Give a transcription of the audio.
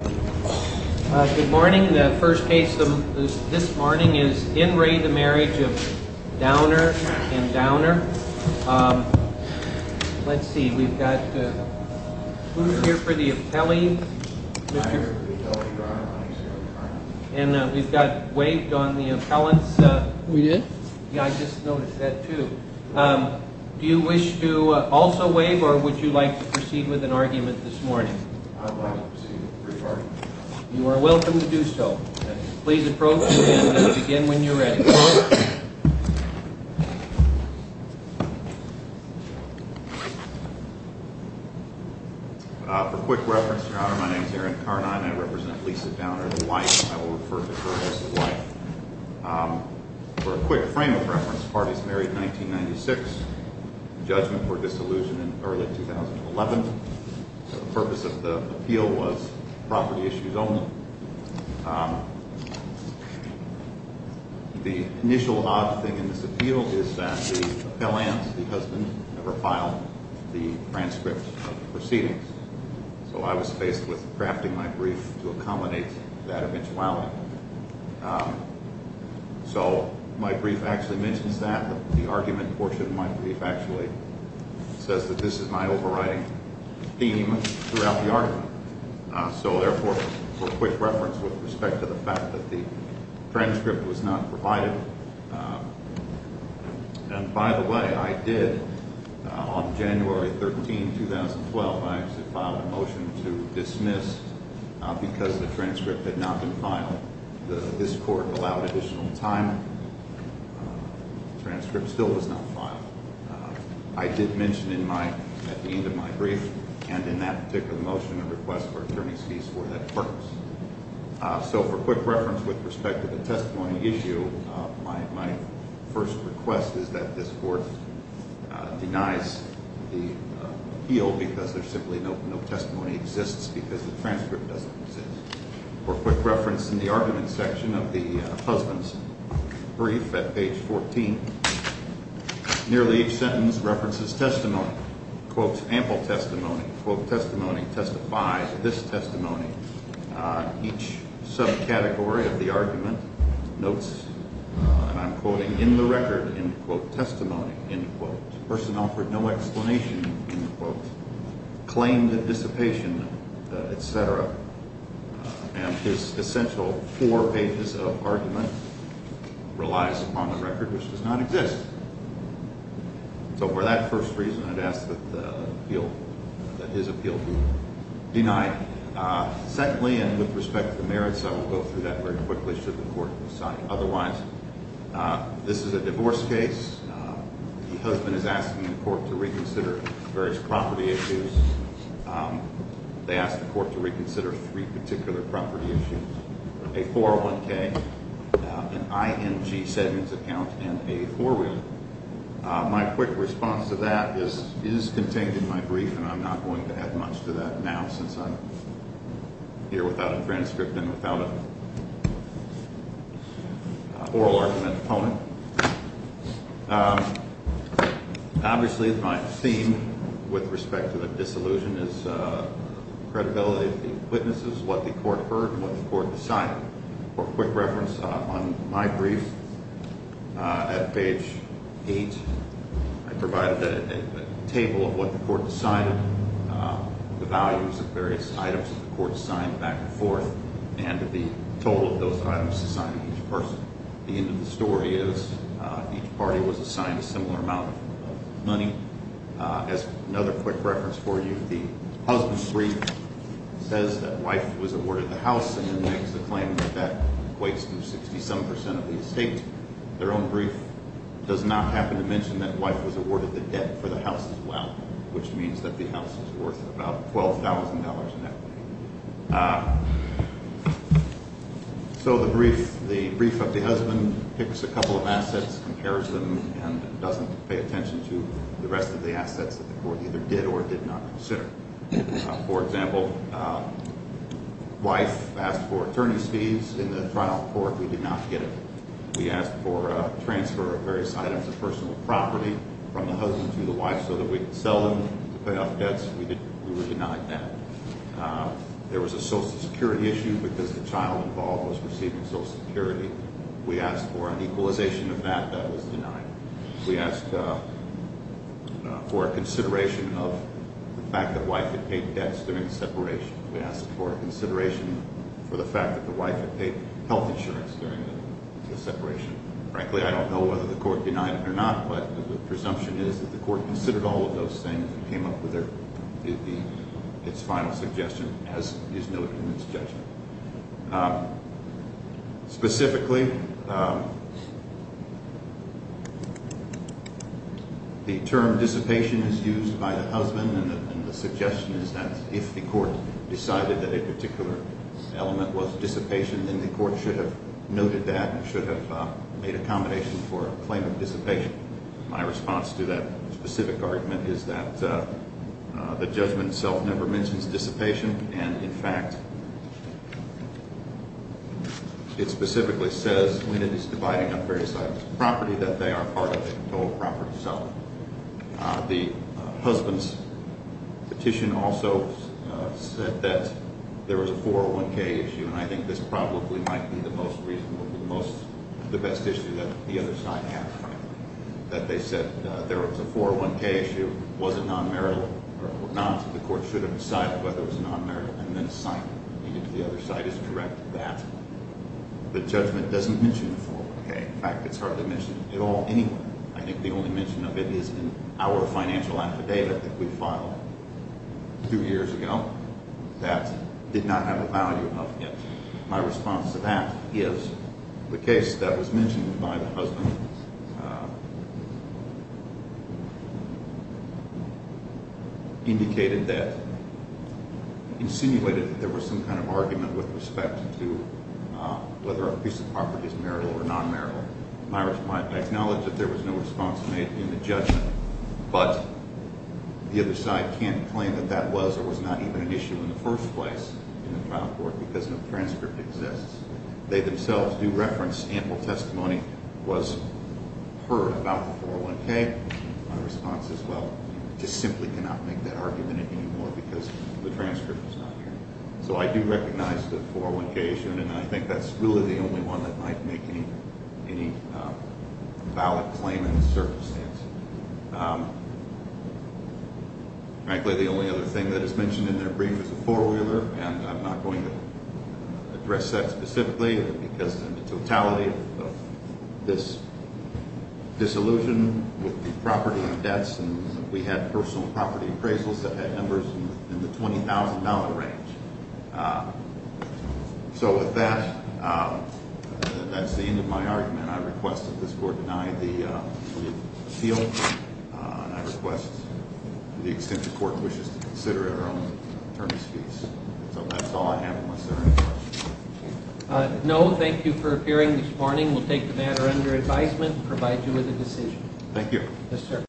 Good morning. The first case this morning is in re the Marriage of Downer and Downer. Let's see, we've got, who's here for the appellee? And we've got waived on the appellants. We did? Yeah, I just noticed that too. Do you wish to also waive or would you like to proceed with an argument this morning? I would like to proceed with a brief argument. You are welcome to do so. Please approach and begin when you're ready. For quick reference, Your Honor, my name is Aaron Carnine. I represent Lisa Downer, the wife. I will refer to her as the wife. For a quick frame of reference, the party is married in 1996. Judgment for disillusion in early 2011. The purpose of the appeal was property issues only. The initial odd thing in this appeal is that the appellants, the husband, never filed the transcript of the proceedings. So I was faced with crafting my brief to accommodate that eventuality. So my brief actually mentions that. The argument portion of my brief actually says that this is my overriding theme throughout the argument. So therefore, for quick reference with respect to the fact that the transcript was not provided. And by the way, I did on January 13, 2012, I actually filed a motion to dismiss because the transcript had not been filed. This court allowed additional time. The transcript still was not filed. I did mention at the end of my brief and in that particular motion a request for attorney's fees for that purpose. So for quick reference with respect to the testimony issue, my first request is that this court denies the appeal because there's simply no testimony exists because the transcript doesn't exist. For quick reference in the argument section of the husband's brief at page 14, nearly each sentence references testimony. Quotes ample testimony. Quote, testimony testifies, this testimony. Each subcategory of the argument notes, and I'm quoting, in the record, end quote, testimony, end quote. Person offered no explanation, end quote. Claimed dissipation, et cetera. And his essential four pages of argument relies upon the record, which does not exist. So for that first reason, I'd ask that the appeal, that his appeal be denied. Secondly, and with respect to the merits, I will go through that very quickly should the court decide otherwise, this is a divorce case. The husband is asking the court to reconsider various property issues. They asked the court to reconsider three particular property issues, a 401K, an IMG segment account, and a four-week. My quick response to that is contained in my brief, and I'm not going to add much to that now since I'm here without a transcript and without an oral argument opponent. Obviously, my theme with respect to the disillusion is credibility of the witnesses, what the court heard, what the court decided. For quick reference, on my brief, at page 8, I provided a table of what the court decided, the values of various items that the court signed back and forth, and the total of those items assigned to each person. The end of the story is each party was assigned a similar amount of money. As another quick reference for you, the husband's brief says that wife was awarded the house and then makes the claim that that equates to 67% of the estate. Their own brief does not happen to mention that wife was awarded the debt for the house as well, which means that the house is worth about $12,000 net. So the brief of the husband picks a couple of assets, compares them, and doesn't pay attention to the rest of the assets that the court either did or did not consider. For example, wife asked for attorney's fees in the trial court. We did not get it. We asked for transfer of various items of personal property from the husband to the wife so that we could sell them to pay off debts. We were denied that. There was a Social Security issue because the child involved was receiving Social Security. We asked for an equalization of that. That was denied. We asked for a consideration of the fact that wife had paid debts during the separation. We asked for a consideration for the fact that the wife had paid health insurance during the separation. Frankly, I don't know whether the court denied it or not, but the presumption is that the court considered all of those things and came up with its final suggestion as is noted in its judgment. Specifically, the term dissipation is used by the husband, and the suggestion is that if the court decided that a particular element was dissipation, then the court should have noted that and should have made accommodation for a claim of dissipation. My response to that specific argument is that the judgment itself never mentions dissipation, and in fact, it specifically says when it is dividing up various items of property that they are part of the total property selling. The husband's petition also said that there was a 401k issue, and I think this probably might be the most reasonable, the best issue that the other side has, frankly, that they said there was a 401k issue, was it non-marital or not. The court should have decided whether it was non-marital and then signed it. Even if the other side is correct that the judgment doesn't mention the 401k. In fact, it's hard to mention it at all anyway. I think the only mention of it is in our financial affidavit that we filed two years ago that did not have a value of it. My response to that is the case that was mentioned by the husband indicated that, insinuated that there was some kind of argument with respect to whether a piece of property is marital or non-marital. I acknowledge that there was no response made in the judgment, but the other side can't claim that that was or was not even an issue in the first place in the trial court because no transcript exists. They themselves do reference ample testimony was heard about the 401k. My response is, well, just simply cannot make that argument anymore because the transcript is not here. So I do recognize the 401k issue, and I think that's really the only one that might make any valid claim in this circumstance. Frankly, the only other thing that is mentioned in their brief is a four-wheeler, and I'm not going to address that specifically because of the totality of this disillusion with the property and debts. We had personal property appraisals that had numbers in the $20,000 range. So with that, that's the end of my argument. I request that this court deny the appeal, and I request that the extension court wishes to consider our own attorney's fees. So that's all I have unless there are any questions. No, thank you for appearing this morning. We'll take the matter under advisement and provide you with a decision. Thank you.